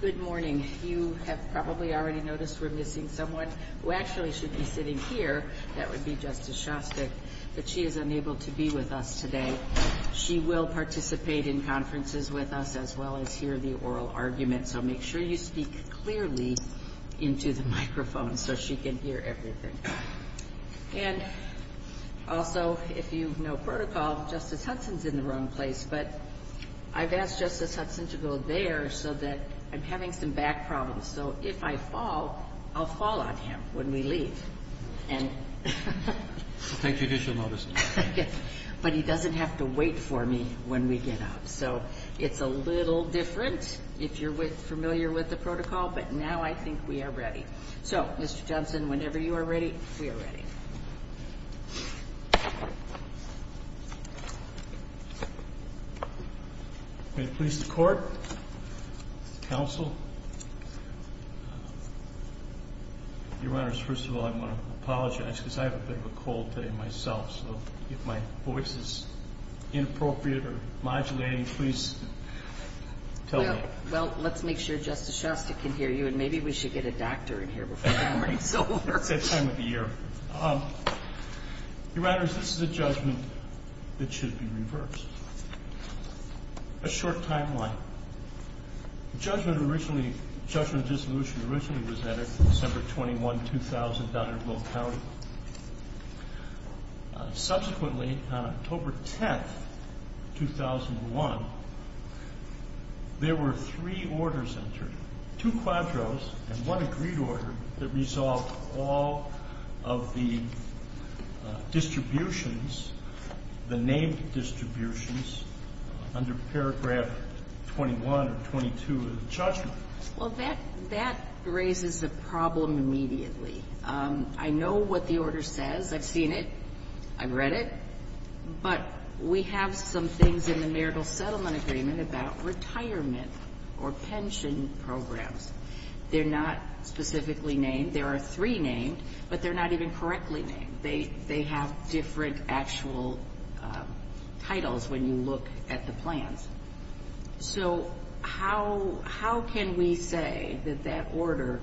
Good morning. You have probably already noticed we're missing someone who actually should be sitting here. That would be Justice Shostak. But she is unable to be with us today. She will participate in conferences with us, as well as hear the oral argument. So make sure you speak clearly into the microphone so she can hear everything. And also, if you know protocol, Justice Hudson's in the wrong place. But I've asked Justice Hudson to go there so that I'm having some back problems. So if I fall, I'll fall on him when we leave. And thank you. But he doesn't have to wait for me when we get out. So it's a little different if you're familiar with the protocol. But now I think we are ready. So, Mr. Johnson, whenever you are ready, we are ready. May it please the Court, Counsel? Your Honors, first of all, I want to apologize because I have a bit of a cold today myself. So if my voice is inappropriate or modulating, please tell me. Well, let's make sure Justice Shostak can hear you. And maybe we should get a doctor in here before it gets so warm. It's that time of the year. Your Honors, this is a judgment that should be reversed. A short timeline. The judgment originally, judgment of dissolution, originally was added December 21, 2000, down in Will County. Subsequently, on October 10, 2001, there were three orders entered. Two quadros and one agreed order that resolved all of the distributions, the named distributions, under paragraph 21 or 22 of the judgment. Well, that raises a problem immediately. I know what the order says. I've seen it. I've read it. But we have some things in the marital settlement agreement about retirement or pension programs. They're not specifically named. There are three named, but they're not even correctly named. They have different actual titles when you look at the plans. So how can we say that that order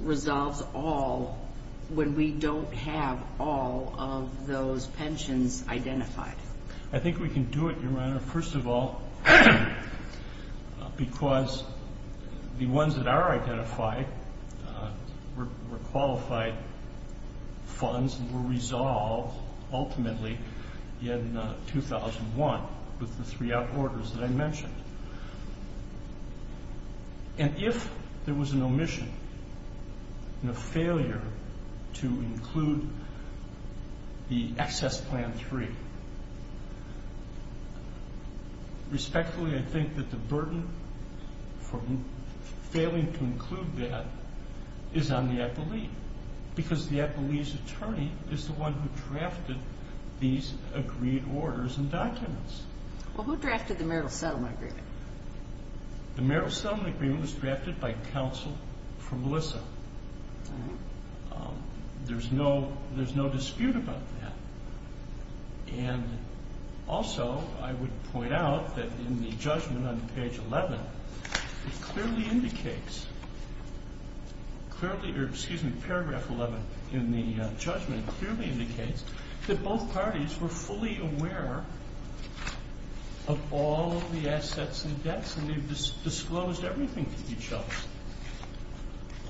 resolves all when we don't have all of those pensions identified? I think we can do it, Your Honor, first of all, because the ones that are identified were qualified funds and were resolved ultimately in 2001 with the three out orders that I mentioned. And if there was an omission and a failure to include the excess plan three, respectfully, I think that the burden for failing to include that is on the appellee, because the appellee's attorney is the one who drafted these agreed orders and documents. Well, who drafted the marital settlement agreement? The marital settlement agreement was drafted by counsel for Melissa. There's no dispute about that. And also, I would point out that in the judgment on page 11, it clearly indicates, clearly, or excuse me, paragraph 11 in the judgment clearly indicates that both parties were fully aware of all of the assets and debts, and they've disclosed everything to each other.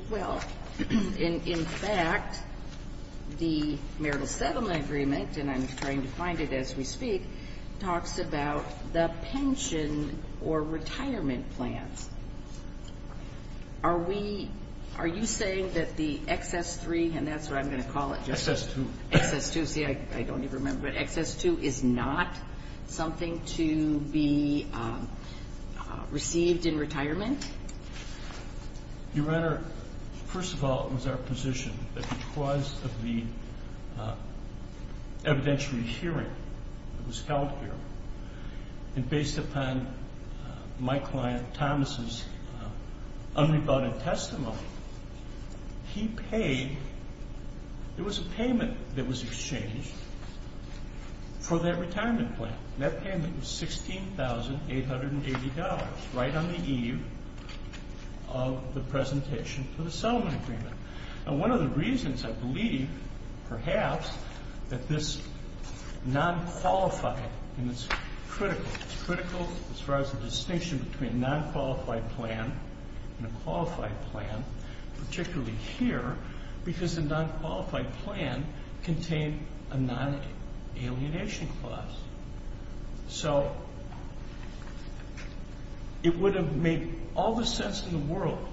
Well, in fact, the marital settlement agreement, and I'm trying to find it as we speak, talks about the pension or retirement plans. Are we, are you saying that the excess three, and that's what I'm going to call it. Excess two. Excess two. See, I don't even remember. But excess two is not something to be received in retirement? Your Honor, first of all, it was our position that because of the evidentiary hearing that was held here, and based upon my client Thomas's unrebutted testimony, he paid, there was a payment that was exchanged for that retirement plan. And that payment was $16,880 right on the eve of the presentation for the settlement agreement. And one of the reasons I believe, perhaps, that this non-qualified, and it's critical, it's critical as far as the distinction between a non-qualified plan and a qualified plan, particularly here, because the non-qualified plan contained a non-alienation clause. So it would have made all the sense in the world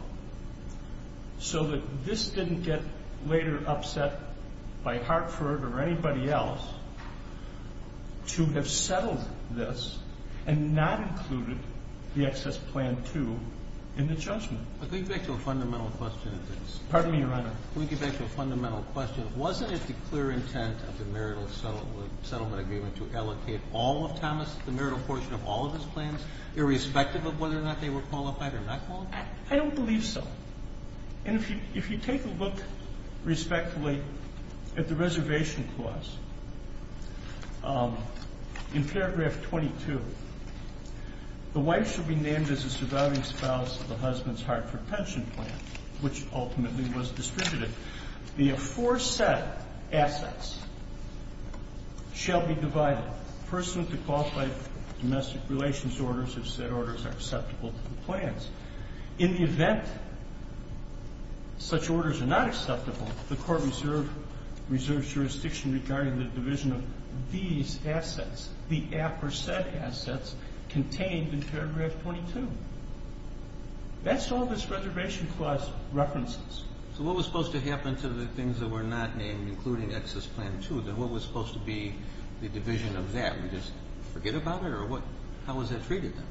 so that this didn't get later upset by Hartford or anybody else to have settled this and not included the excess plan two in the judgment. Could we get back to a fundamental question? Pardon me, Your Honor. Could we get back to a fundamental question? Wasn't it the clear intent of the marital settlement agreement to allocate all of Thomas, the marital portion of all of his plans, irrespective of whether or not they were qualified or not qualified? I don't believe so. And if you take a look respectfully at the reservation clause, in paragraph 22, the wife should be named as the surviving spouse of the husband's Hartford pension plan, which ultimately was distributed. The aforesaid assets shall be divided, pursuant to qualified domestic relations orders, if said orders are acceptable to the plans. In the event such orders are not acceptable, the court reserves jurisdiction regarding the division of these assets, the aforesaid assets, contained in paragraph 22. That's all this reservation clause references. So what was supposed to happen to the things that were not named, including excess plan two? What was supposed to be the division of that? We just forget about it, or how was that treated then?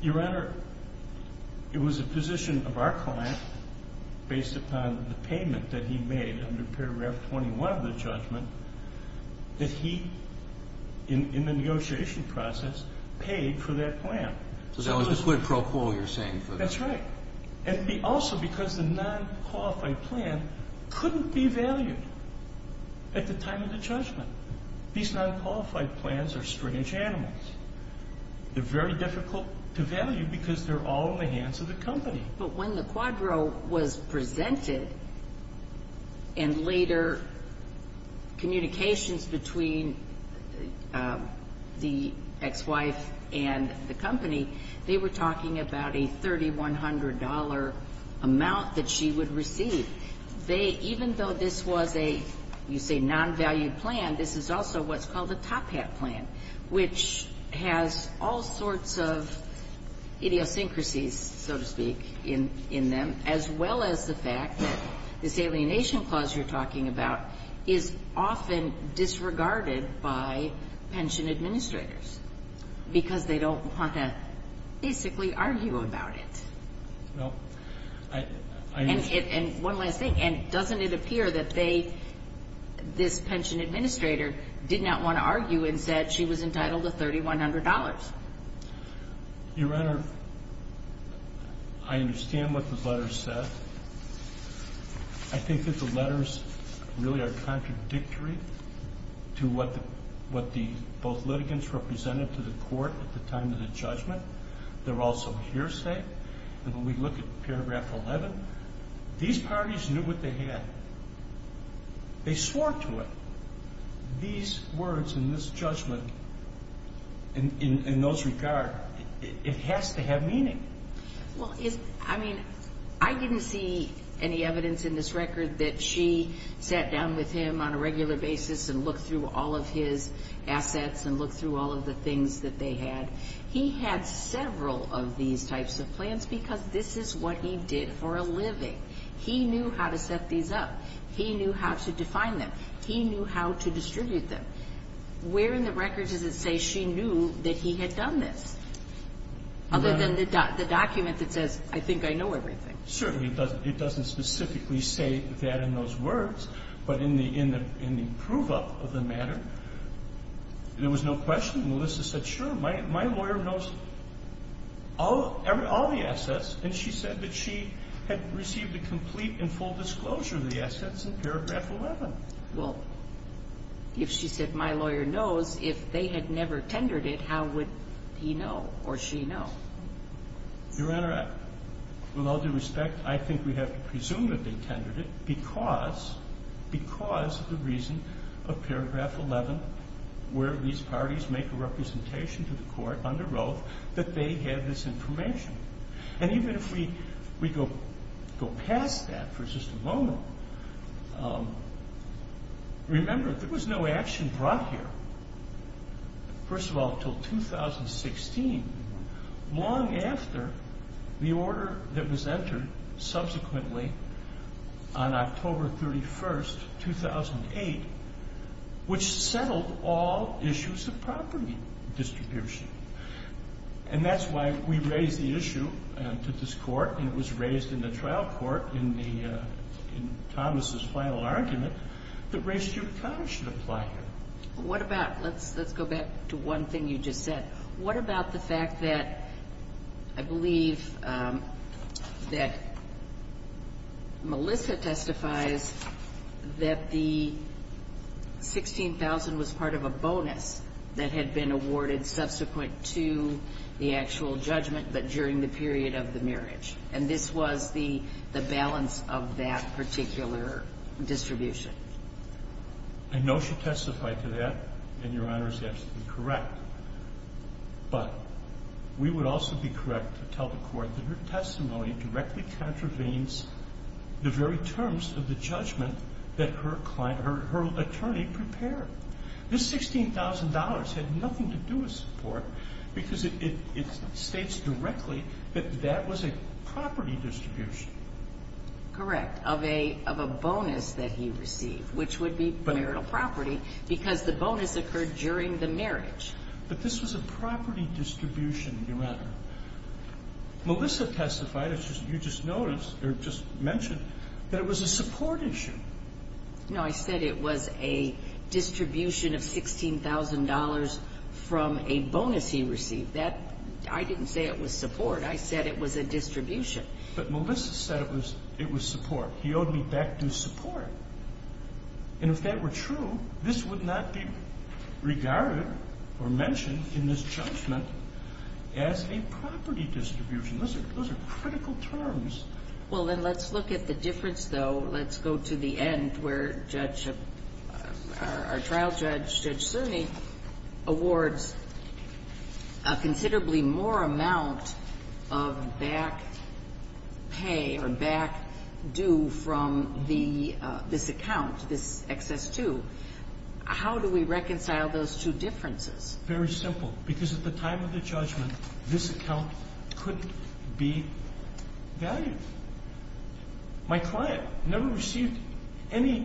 Your Honor, it was a position of our client, based upon the payment that he made under paragraph 21 of the judgment, that he, in the negotiation process, paid for that plan. So that was the quid pro quo you're saying for that? That's right. And also because the non-qualified plan couldn't be valued at the time of the judgment. These non-qualified plans are strange animals. They're very difficult to value because they're all in the hands of the company. But when the quadro was presented, and later communications between the ex-wife and the company, they were talking about a $3,100 amount that she would receive. Even though this was a, you say, non-valued plan, this is also what's called a top hat plan, which has all sorts of idiosyncrasies, so to speak, in them, as well as the fact that this alienation clause you're talking about is often disregarded by pension administrators because they don't want to basically argue about it. And one last thing, doesn't it appear that this pension administrator did not want to argue and said she was entitled to $3,100? Your Honor, I understand what the letter said. I think that the letters really are contradictory to what both litigants represented to the court at the time of the judgment. They're also hearsay. And when we look at paragraph 11, these parties knew what they had. They swore to it. These words and this judgment, in those regards, it has to have meaning. Well, I mean, I didn't see any evidence in this record that she sat down with him on a regular basis and looked through all of his assets and looked through all of the things that they had. He had several of these types of plans because this is what he did for a living. He knew how to set these up. He knew how to define them. He knew how to distribute them. Where in the record does it say she knew that he had done this, other than the document that says, I think I know everything? Certainly, it doesn't specifically say that in those words, but in the prove-up of the matter, there was no question. Melissa said, sure, my lawyer knows all the assets. And she said that she had received a complete and full disclosure of the assets in paragraph 11. Well, if she said my lawyer knows, if they had never tendered it, how would he know or she know? Your Honor, with all due respect, I think we have to presume that they tendered it because of the reason of paragraph 11 where these parties make a representation to the court under Roe that they had this information. And even if we go past that for just a moment, remember, there was no action brought here. First of all, until 2016, long after the order that was entered subsequently on October 31st, 2008, which settled all issues of property distribution. And that's why we raised the issue to this court, and it was raised in the trial court in Thomas' final argument that Ray Stupak should apply here. What about, let's go back to one thing you just said. What about the fact that I believe that Melissa testifies that the $16,000 was part of a bonus that had been awarded subsequent to the actual judgment, but during the period of the marriage. And this was the balance of that particular distribution. I know she testified to that, and Your Honor is absolutely correct. But we would also be correct to tell the court that her testimony directly contravenes the very terms of the judgment that her attorney prepared. This $16,000 had nothing to do with support because it states directly that that was a property distribution. Correct, of a bonus that he received, which would be marital property, because the bonus occurred during the marriage. But this was a property distribution, Your Honor. Melissa testified, as you just noticed or just mentioned, that it was a support issue. No, I said it was a distribution of $16,000 from a bonus he received. I didn't say it was support. I said it was a distribution. But Melissa said it was support. He owed me back due support. And if that were true, this would not be regarded or mentioned in this judgment as a property distribution. Those are critical terms. Well, then let's look at the difference, though. Let's go to the end where our trial judge, Judge Cerny, awards a considerably more amount of back pay or back due from this account, this XS2. How do we reconcile those two differences? Very simple. Because at the time of the judgment, this account couldn't be valued. My client never received any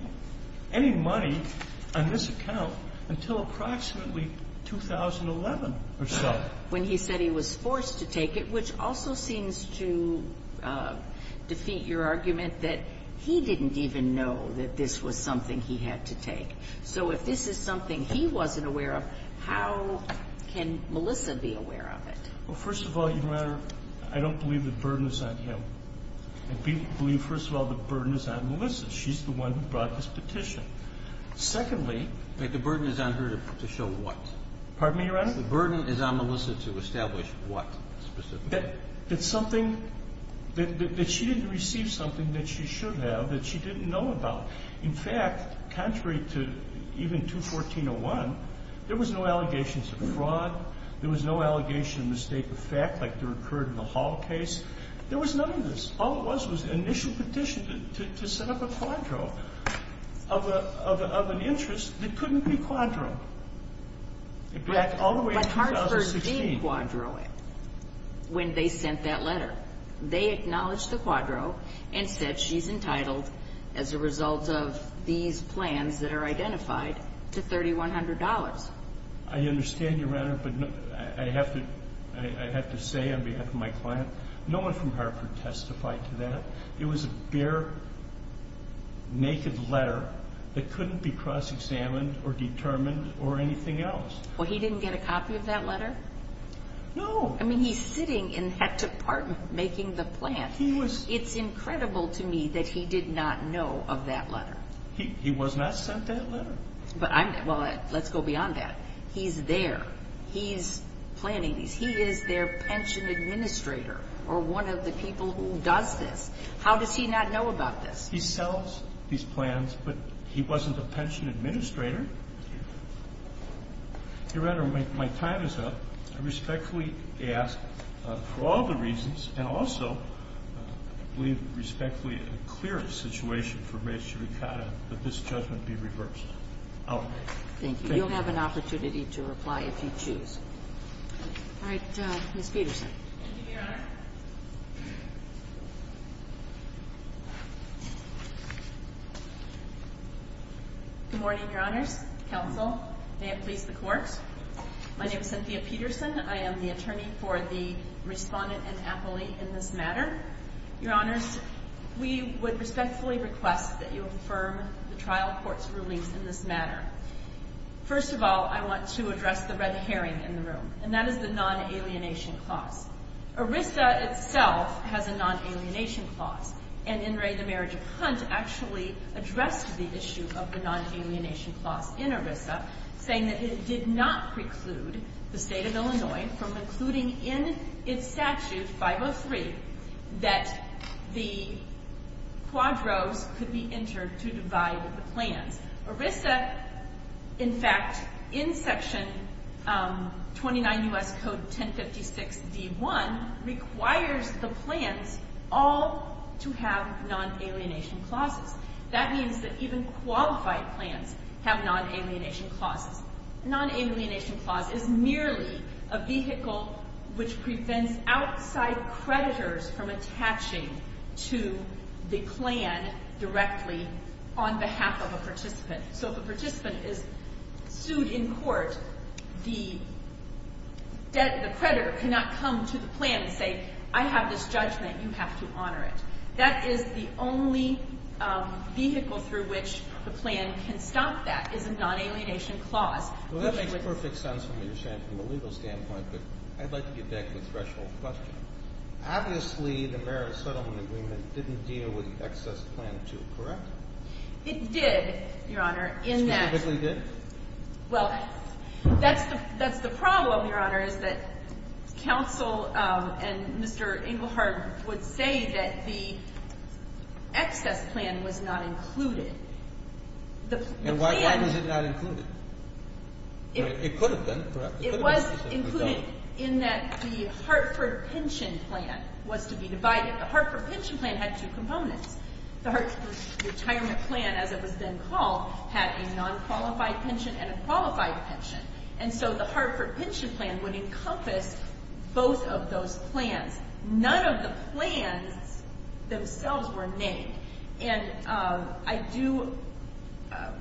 money on this account until approximately 2011 or so. When he said he was forced to take it, which also seems to defeat your argument that he didn't even know that this was something he had to take. So if this is something he wasn't aware of, how can Melissa be aware of it? Well, first of all, Your Honor, I don't believe the burden is on him. I believe, first of all, the burden is on Melissa. She's the one who brought this petition. Secondly — But the burden is on her to show what? Pardon me, Your Honor? The burden is on Melissa to establish what specifically? That something — that she didn't receive something that she should have, that she didn't know about. In fact, contrary to even 214.01, there was no allegations of fraud. There was no allegation of mistake of fact like there occurred in the Hall case. There was none of this. All it was was an initial petition to set up a quadro of an interest that couldn't be quadroed. In fact, all the way to 2016. But Hartford did quadro it when they sent that letter. They acknowledged the quadro and said she's entitled, as a result of these plans that are identified, to $3,100. I understand, Your Honor, but I have to say on behalf of my client, no one from Hartford testified to that. It was a bare, naked letter that couldn't be cross-examined or determined or anything else. Well, he didn't get a copy of that letter? No. I mean, he's sitting in that department making the plan. It's incredible to me that he did not know of that letter. He was not sent that letter. Well, let's go beyond that. He's there. He's planning these. He is their pension administrator or one of the people who does this. How does he not know about this? He sells these plans, but he wasn't a pension administrator. Your Honor, my time is up. I respectfully ask for all the reasons, and also I believe respectfully a clearer situation for Mae Shirikata that this judgment be reversed. Thank you. Thank you. You'll have an opportunity to reply if you choose. All right. Ms. Peterson. Thank you, Your Honor. Good morning, Your Honors. Counsel, may it please the Court. My name is Cynthia Peterson. I am the attorney for the Respondent and appellee in this matter. Your Honors, we would respectfully request that you affirm the trial court's release in this matter. First of all, I want to address the red herring in the room, and that is the non-alienation clause. ERISA itself has a non-alienation clause, and In Re, the Marriage of Hunt, actually addressed the issue of the non-alienation clause in ERISA, saying that it did not preclude the State of Illinois from including in its statute, 503, that the quadros could be entered to divide the plans. ERISA, in fact, in Section 29 U.S. Code 1056 D.1, requires the plans all to have non-alienation clauses. That means that even qualified plans have non-alienation clauses. A non-alienation clause is merely a vehicle which prevents outside creditors from attaching to the plan directly on behalf of a participant. So if a participant is sued in court, the creditor cannot come to the plan and say, I have this judgment. You have to honor it. That is the only vehicle through which the plan can stop that, is a non-alienation clause. Well, that makes perfect sense from what you're saying from a legal standpoint, but I'd like to get back to the threshold question. Obviously, the marriage settlement agreement didn't deal with Excess Plan 2, correct? It did, Your Honor. Specifically did? Well, that's the problem, Your Honor, is that counsel and Mr. Englehard would say that the Excess Plan was not included. And why was it not included? It could have been, correct? It could have been. It was included in that the Hartford Pension Plan was to be divided. The Hartford Pension Plan had two components. The Hartford Retirement Plan, as it was then called, had a non-qualified pension and a qualified pension. And so the Hartford Pension Plan would encompass both of those plans. None of the plans themselves were named.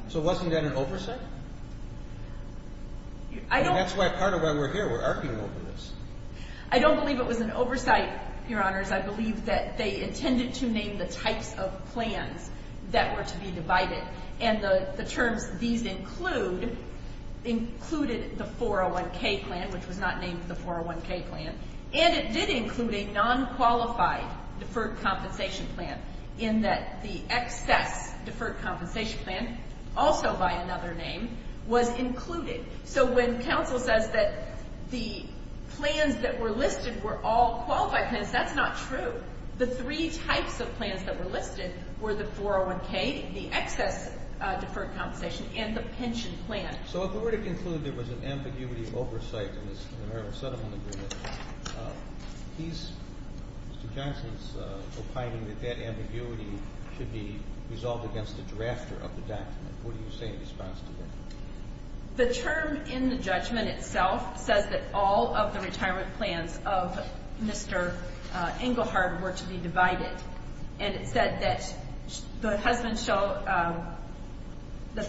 So wasn't that an oversight? That's part of why we're here. We're arguing over this. I don't believe it was an oversight, Your Honors. I believe that they intended to name the types of plans that were to be divided. And the terms these include included the 401K plan, which was not named the 401K plan. And it did include a non-qualified deferred compensation plan in that the Excess Deferred Compensation Plan, also by another name, was included. So when counsel says that the plans that were listed were all qualified plans, that's not true. The three types of plans that were listed were the 401K, the Excess Deferred Compensation, and the pension plan. So if we were to conclude there was an ambiguity of oversight in this American Settlement Agreement, Mr. Johnson's opining that that ambiguity should be resolved against the drafter of the document. What do you say in response to that? The term in the judgment itself says that all of the retirement plans of Mr. Engelhardt were to be divided. And it said that the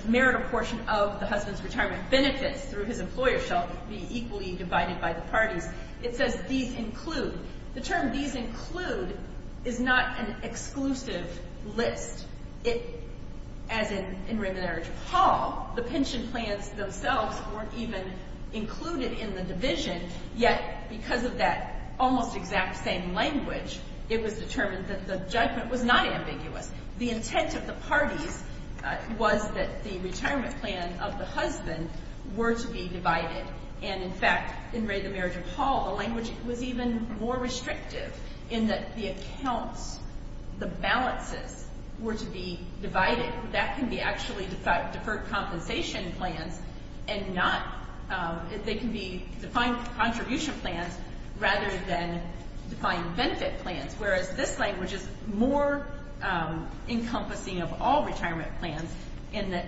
marital portion of the husband's retirement benefits through his employer shall be equally divided by the parties. It says these include. The term these include is not an exclusive list. As in Raymond Edwards Hall, the pension plans themselves weren't even included in the division, yet because of that almost exact same language, it was determined that the judgment was not ambiguous. The intent of the parties was that the retirement plan of the husband were to be divided. And, in fact, in Raymond Edwards Hall, the language was even more restrictive in that the accounts, the balances, were to be divided. That can be actually deferred compensation plans and not they can be defined contribution plans rather than defined benefit plans, whereas this language is more encompassing of all retirement plans in that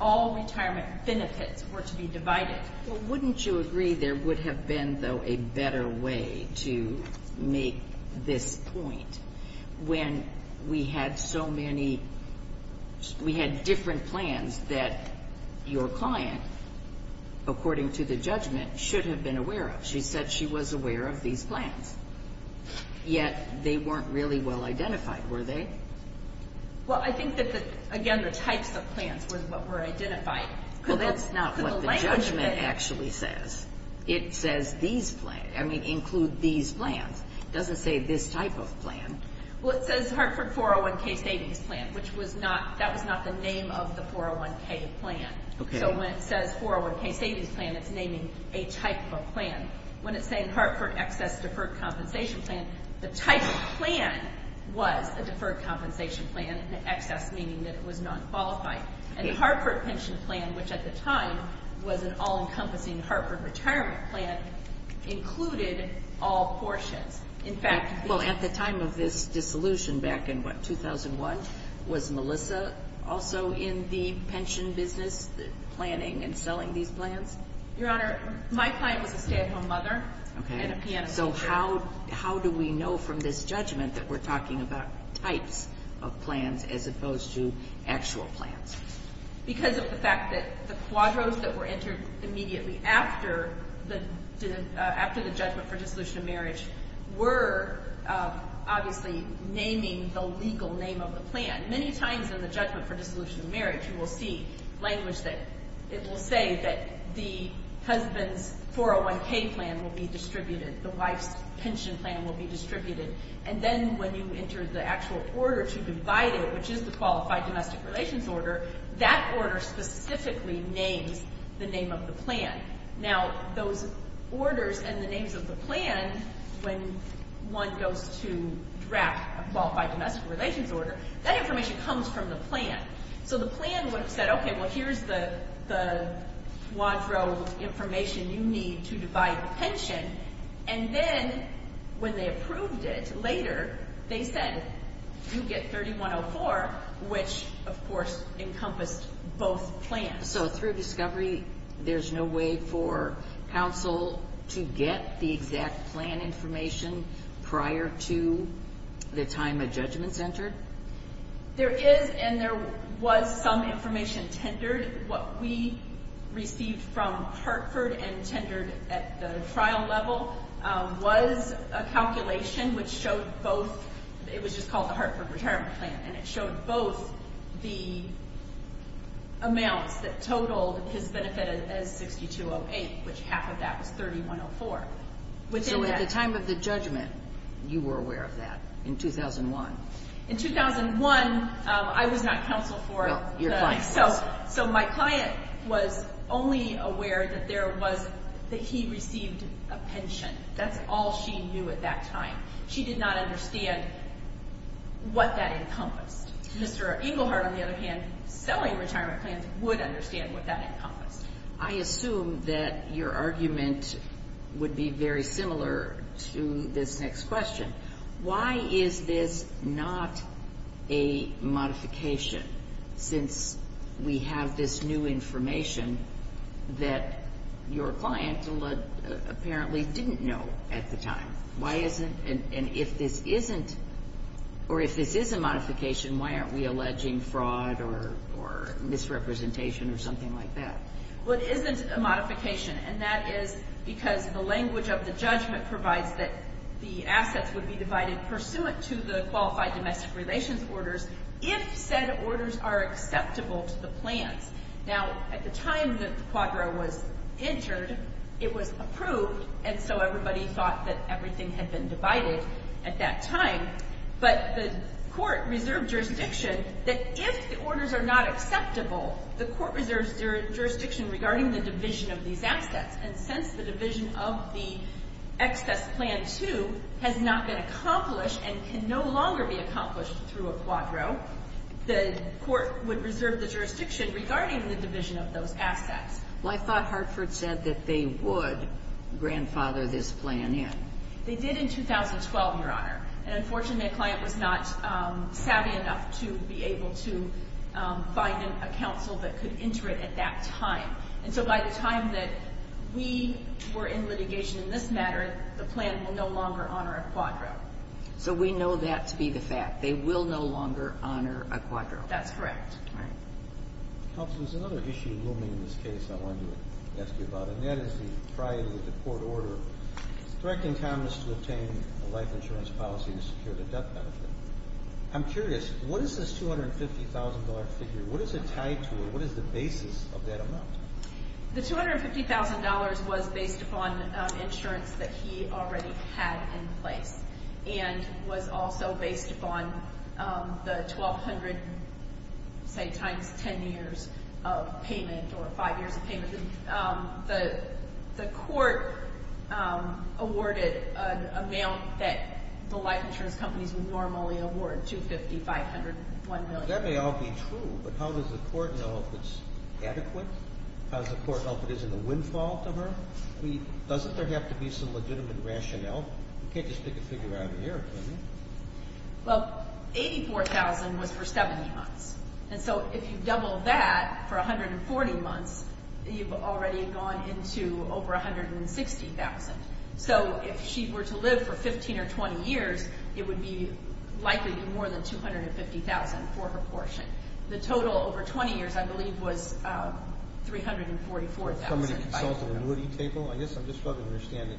all retirement benefits were to be divided. Well, wouldn't you agree there would have been, though, a better way to make this point when we had so many different plans that your client, according to the judgment, should have been aware of? She said she was aware of these plans, yet they weren't really well identified, were they? Well, I think that, again, the types of plans was what were identified. Well, that's not what the judgment actually says. It says these plans. I mean, include these plans. It doesn't say this type of plan. Well, it says Hartford 401K Savings Plan, which that was not the name of the 401K plan. So when it says 401K Savings Plan, it's naming a type of a plan. When it's saying Hartford Excess Deferred Compensation Plan, the type of plan was a deferred compensation plan, an excess meaning that it was nonqualified. And the Hartford Pension Plan, which at the time was an all-encompassing Hartford retirement plan, included all portions. Well, at the time of this dissolution back in, what, 2001, was Melissa also in the pension business planning and selling these plans? Your Honor, my client was a stay-at-home mother and a pianist. So how do we know from this judgment that we're talking about types of plans as opposed to actual plans? Because of the fact that the quadros that were entered immediately after the judgment for dissolution of marriage were obviously naming the legal name of the plan. Many times in the judgment for dissolution of marriage, you will see language that it will say that the husband's 401K plan will be distributed, the wife's pension plan will be distributed. And then when you enter the actual order to divide it, which is the Qualified Domestic Relations Order, that order specifically names the name of the plan. Now, those orders and the names of the plan, when one goes to draft a Qualified Domestic Relations Order, that information comes from the plan. So the plan would have said, okay, well, here's the quadro information you need to divide the pension. And then when they approved it later, they said, you get 3104, which, of course, encompassed both plans. So through discovery, there's no way for counsel to get the exact plan information prior to the time a judgment's entered? There is, and there was some information tendered. What we received from Hartford and tendered at the trial level was a calculation which showed both. It was just called the Hartford Retirement Plan, and it showed both the amounts that totaled his benefit as 6208, which half of that was 3104. So at the time of the judgment, you were aware of that, in 2001? In 2001, I was not counsel for the. Well, your client was. So my client was only aware that he received a pension. That's all she knew at that time. She did not understand what that encompassed. Mr. Engelhardt, on the other hand, selling retirement plans, would understand what that encompassed. I assume that your argument would be very similar to this next question. Why is this not a modification since we have this new information that your client apparently didn't know at the time? Why isn't and if this isn't or if this is a modification, why aren't we alleging fraud or misrepresentation or something like that? Well, it isn't a modification, and that is because the language of the judgment provides that the assets would be divided pursuant to the qualified domestic relations orders if said orders are acceptable to the plans. Now, at the time that the quadra was entered, it was approved, and so everybody thought that everything had been divided at that time. But the court reserved jurisdiction that if the orders are not acceptable, the court reserves jurisdiction regarding the division of these assets. And since the division of the excess plan 2 has not been accomplished and can no longer be accomplished through a quadro, the court would reserve the jurisdiction regarding the division of those assets. Well, I thought Hartford said that they would grandfather this plan in. They did in 2012, Your Honor. And unfortunately, a client was not savvy enough to be able to find a counsel that could enter it at that time. And so by the time that we were in litigation in this matter, the plan will no longer honor a quadro. So we know that to be the fact. They will no longer honor a quadro. That's correct. All right. Counsel, there's another issue looming in this case I wanted to ask you about, and that is the priority of the court order. Directing Congress to obtain a life insurance policy to secure the death benefit. I'm curious, what is this $250,000 figure? What is it tied to, or what is the basis of that amount? The $250,000 was based upon insurance that he already had in place and was also based upon the 1,200, say, times 10 years of payment or five years of payment. The court awarded an amount that the life insurance companies would normally award, $250,000, $500,000, $1 million. That may all be true, but how does the court know if it's adequate? How does the court know if it isn't a windfall to her? Doesn't there have to be some legitimate rationale? You can't just pick a figure out of the air, can you? Well, $84,000 was for 70 months. And so if you double that for 140 months, you've already gone into over $160,000. So if she were to live for 15 or 20 years, it would likely be more than $250,000 for her portion. The total over 20 years, I believe, was $344,500. Can somebody consult a moody table? I guess I'm just trying to understand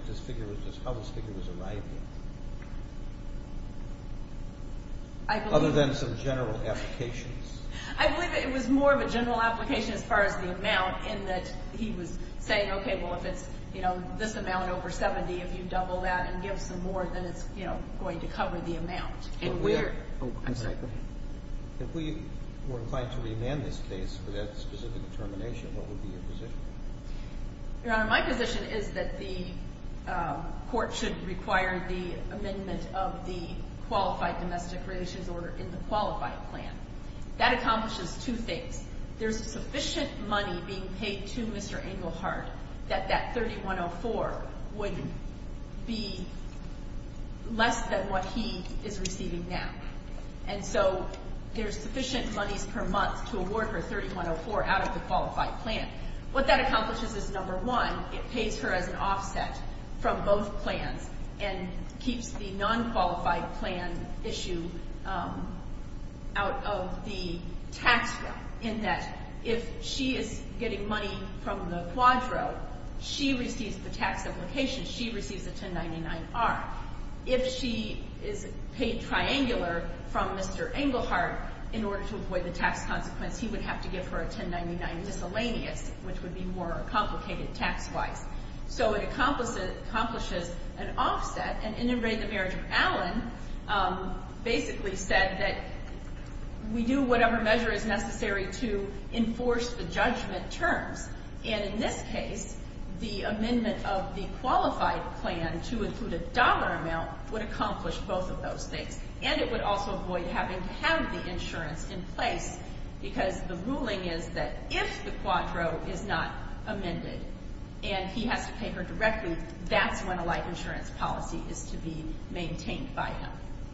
how this figure was arrived at. Other than some general applications. I believe it was more of a general application as far as the amount in that he was saying, okay, well, if it's, you know, this amount over 70, if you double that and give some more, then it's, you know, going to cover the amount. If we were inclined to remand this case for that specific determination, what would be your position? Your Honor, my position is that the court should require the amendment of the Qualified Domestic Relations Order in the Qualified Plan. That accomplishes two things. There's sufficient money being paid to Mr. Engelhardt that that $3104 wouldn't be less than what he is receiving now. And so there's sufficient monies per month to award her $3104 out of the Qualified Plan. What that accomplishes is, number one, it pays her as an offset from both plans and keeps the non-qualified plan issue out of the tax bill, in that if she is getting money from the Quadro, she receives the tax application, she receives the 1099-R. If she is paid triangular from Mr. Engelhardt in order to avoid the tax consequence, he would have to give her a 1099 miscellaneous, which would be more complicated tax-wise. So it accomplishes an offset. And in a way, the marriage of Allen basically said that we do whatever measure is necessary to enforce the judgment terms. And in this case, the amendment of the Qualified Plan to include a dollar amount would accomplish both of those things. And it would also avoid having to have the insurance in place because the ruling is that if the Quadro is not amended and he has to pay her directly, that's when a life insurance policy is to be maintained by him.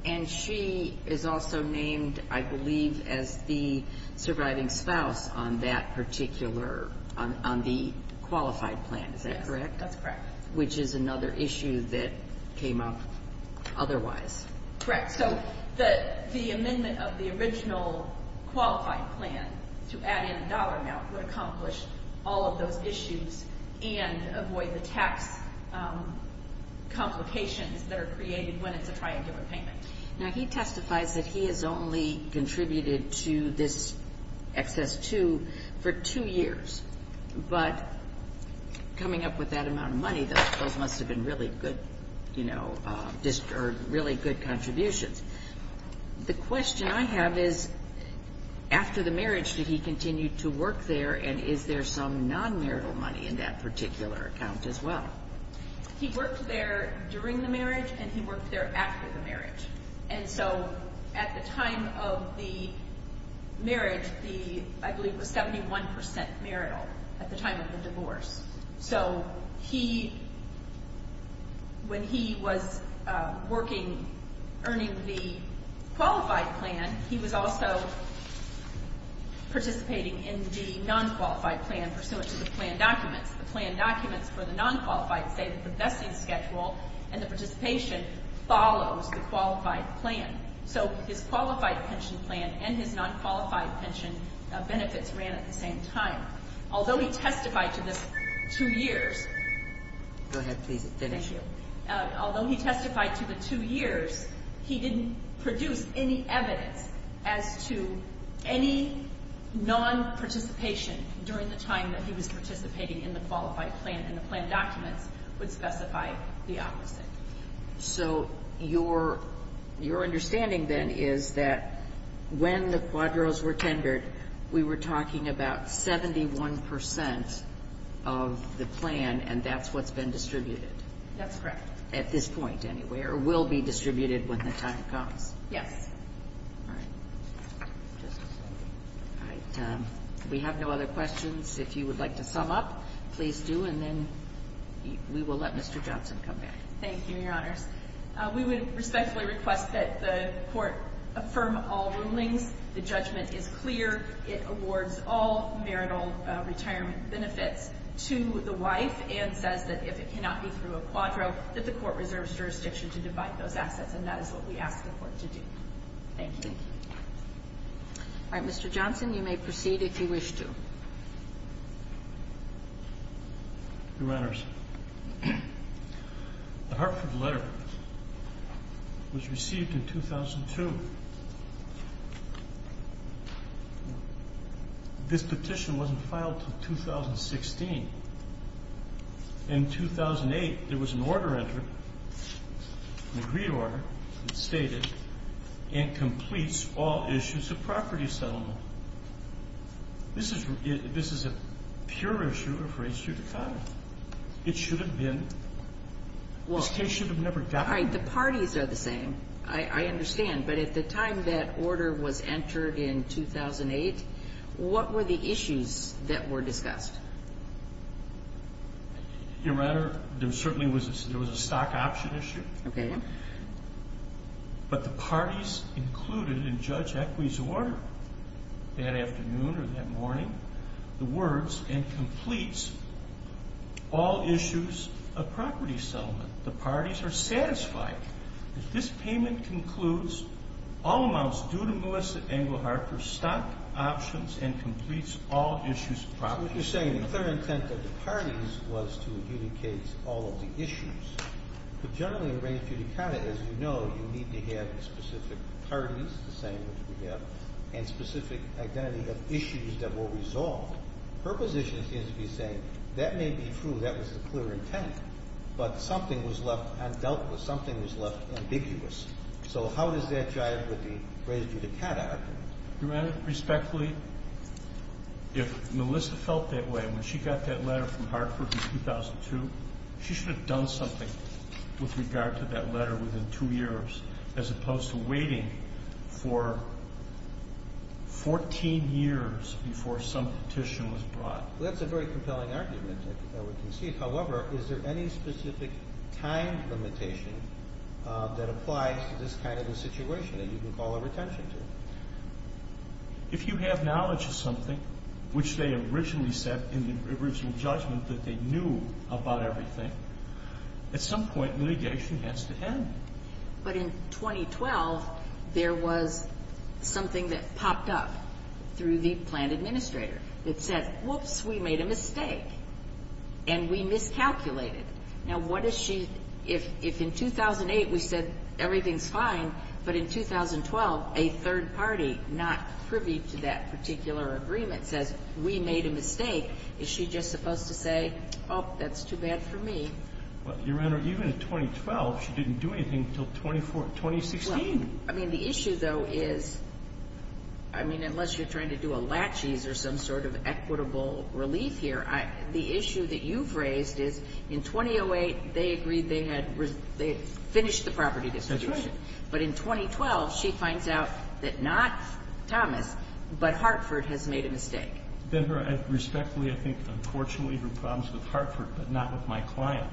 And she is also named, I believe, as the surviving spouse on that particular, on the Qualified Plan, is that correct? Yes, that's correct. Which is another issue that came up otherwise. Correct. So the amendment of the original Qualified Plan to add in a dollar amount would accomplish all of those issues and avoid the tax complications that are created when it's a triangular payment. Now, he testifies that he has only contributed to this excess two for two years. But coming up with that amount of money, those must have been really good, you know, really good contributions. The question I have is, after the marriage, did he continue to work there, and is there some non-marital money in that particular account as well? He worked there during the marriage, and he worked there after the marriage. And so at the time of the marriage, I believe it was 71% marital at the time of the divorce. So he, when he was working, earning the Qualified Plan, he was also participating in the Non-Qualified Plan pursuant to the plan documents. The plan documents for the Non-Qualified say that the vesting schedule and the participation follows the Qualified Plan. So his Qualified Pension Plan and his Non-Qualified Pension benefits ran at the same time. Although he testified to the two years. Go ahead, please, finish. Thank you. Although he testified to the two years, he didn't produce any evidence as to any non-participation during the time that he was participating in the Qualified Plan, and the plan documents would specify the opposite. So your understanding then is that when the Quadros were tendered, we were talking about 71% of the plan, and that's what's been distributed? That's correct. At this point, anyway, or will be distributed when the time comes? Yes. All right. We have no other questions. If you would like to sum up, please do, and then we will let Mr. Johnson come back. Thank you, Your Honors. We would respectfully request that the Court affirm all rulings. The judgment is clear. It awards all marital retirement benefits to the wife and says that if it cannot be through a Quadro, that the Court reserves jurisdiction to divide those assets, and that is what we ask the Court to do. Thank you. Thank you. All right. Mr. Johnson, you may proceed if you wish to. Your Honors. The Hartford letter was received in 2002. This petition wasn't filed until 2016. In 2008, there was an order entered, an agreed order that stated, and completes all issues of property settlement. This is a pure issue of race judicata. It should have been. This case should have never gotten there. All right. The parties are the same. I understand. But at the time that order was entered in 2008, what were the issues that were discussed? Your Honor, there certainly was a stock option issue. Okay. But the parties included in Judge Equy's order that afternoon or that morning the words, and completes all issues of property settlement. The parties are satisfied. This payment concludes all amounts due to Melissa Englehart for stock options and completes all issues of property settlement. So what you're saying, the third intent of the parties was to adjudicate all of the issues. But generally in race judicata, as you know, you need to have specific parties, the same as we have, and specific identity of issues that were resolved. Her position seems to be saying that may be true, that was the clear intent, but something was left undealt with, something was left ambiguous. So how does that jive with the race judicata? Your Honor, respectfully, if Melissa felt that way when she got that letter from Hartford in 2002, she should have done something with regard to that letter within two years, as opposed to waiting for 14 years before some petition was brought. That's a very compelling argument, I would concede. However, is there any specific time limitation that applies to this kind of a situation that you can call our attention to? If you have knowledge of something, which they originally said in the original judgment, that they knew about everything, at some point litigation has to end. But in 2012, there was something that popped up through the plan administrator that said, whoops, we made a mistake and we miscalculated. Now, what if she, if in 2008 we said everything's fine, but in 2012 a third party, not privy to that particular agreement, says we made a mistake, is she just supposed to say, oh, that's too bad for me? Your Honor, even in 2012, she didn't do anything until 2016. Well, I mean, the issue, though, is, I mean, unless you're trying to do a laches or some sort of equitable relief here, the issue that you've raised is, in 2008, they agreed they had finished the property distribution. That's right. But in 2012, she finds out that not Thomas, but Hartford, has made a mistake. Then her, I respectfully, I think, unfortunately, her problems with Hartford, but not with my client.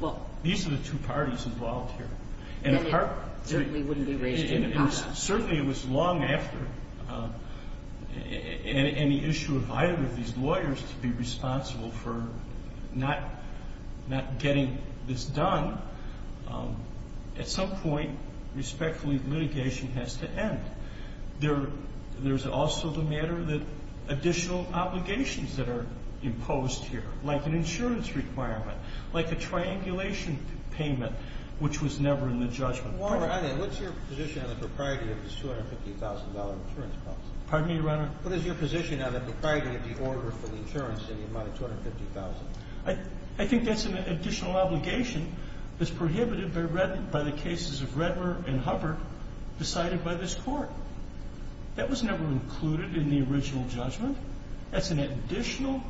Well. These are the two parties involved here. And it certainly wouldn't be raised in CASA. Certainly it was long after any issue of either of these lawyers to be responsible for not getting this done. At some point, respectfully, litigation has to end. There's also the matter that additional obligations that are imposed here, like an insurance requirement, like a triangulation payment, which was never in the judgment. Walter, what's your position on the propriety of this $250,000 insurance clause? Pardon me, Your Honor? What is your position on the propriety of the order for the insurance in the amount of $250,000? I think that's an additional obligation that's prohibited by the cases of Redmer and Hubbard decided by this Court. That was never included in the original judgment. That's an additional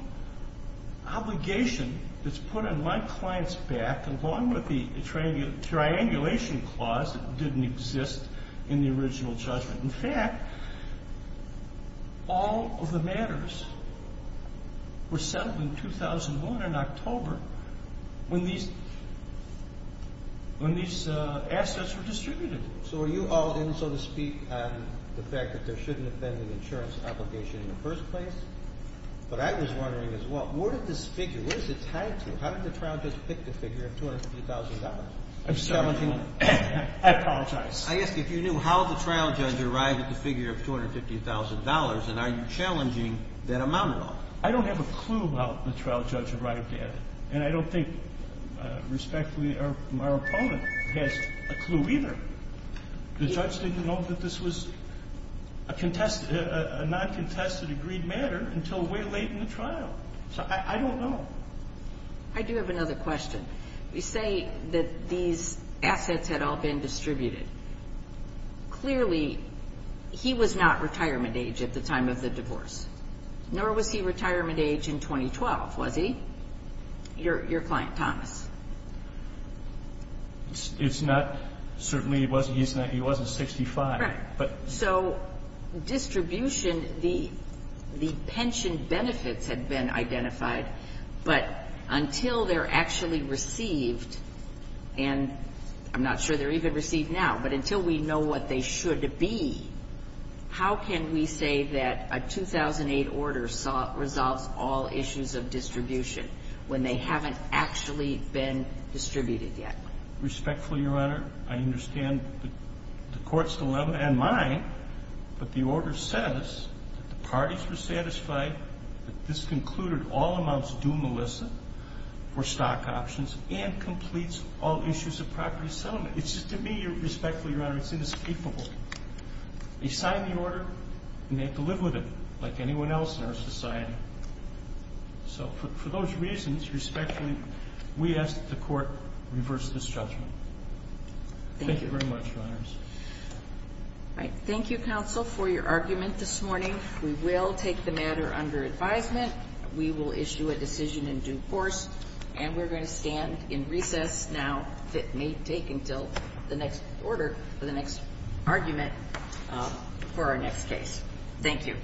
obligation that's put on my client's back, along with the triangulation clause that didn't exist in the original judgment. In fact, all of the matters were settled in 2001, in October, when these assets were distributed. So are you all in, so to speak, on the fact that there shouldn't have been an insurance obligation in the first place? But I was wondering as well, where did this figure, where is it tied to? How did the trial judge pick the figure of $250,000? I'm sorry. I apologize. I asked if you knew how the trial judge arrived at the figure of $250,000, and are you challenging that amount at all? I don't have a clue how the trial judge arrived at it, and I don't think, respectfully, our opponent has a clue either. The judge didn't know that this was a non-contested agreed matter until way late in the trial. So I don't know. I do have another question. You say that these assets had all been distributed. Clearly, he was not retirement age at the time of the divorce, nor was he retirement age in 2012, was he? Your client, Thomas. It's not. Certainly he wasn't 65. So distribution, the pension benefits had been identified, but until they're actually received, and I'm not sure they're even received now, but until we know what they should be, how can we say that a 2008 order resolves all issues of distribution when they haven't actually been distributed yet? Respectfully, Your Honor, I understand the Court's dilemma and mine, but the order says that the parties were satisfied that this concluded all amounts due Melissa for stock options and completes all issues of property settlement. It's just to me, respectfully, Your Honor, it's inescapable. They signed the order, and they have to live with it like anyone else in our society. So for those reasons, respectfully, we ask that the Court reverse this judgment. Thank you very much, Your Honors. Thank you, counsel, for your argument this morning. We will take the matter under advisement. We will issue a decision in due course, and we're going to stand in recess now. It may take until the next order for the next argument for our next case. Thank you.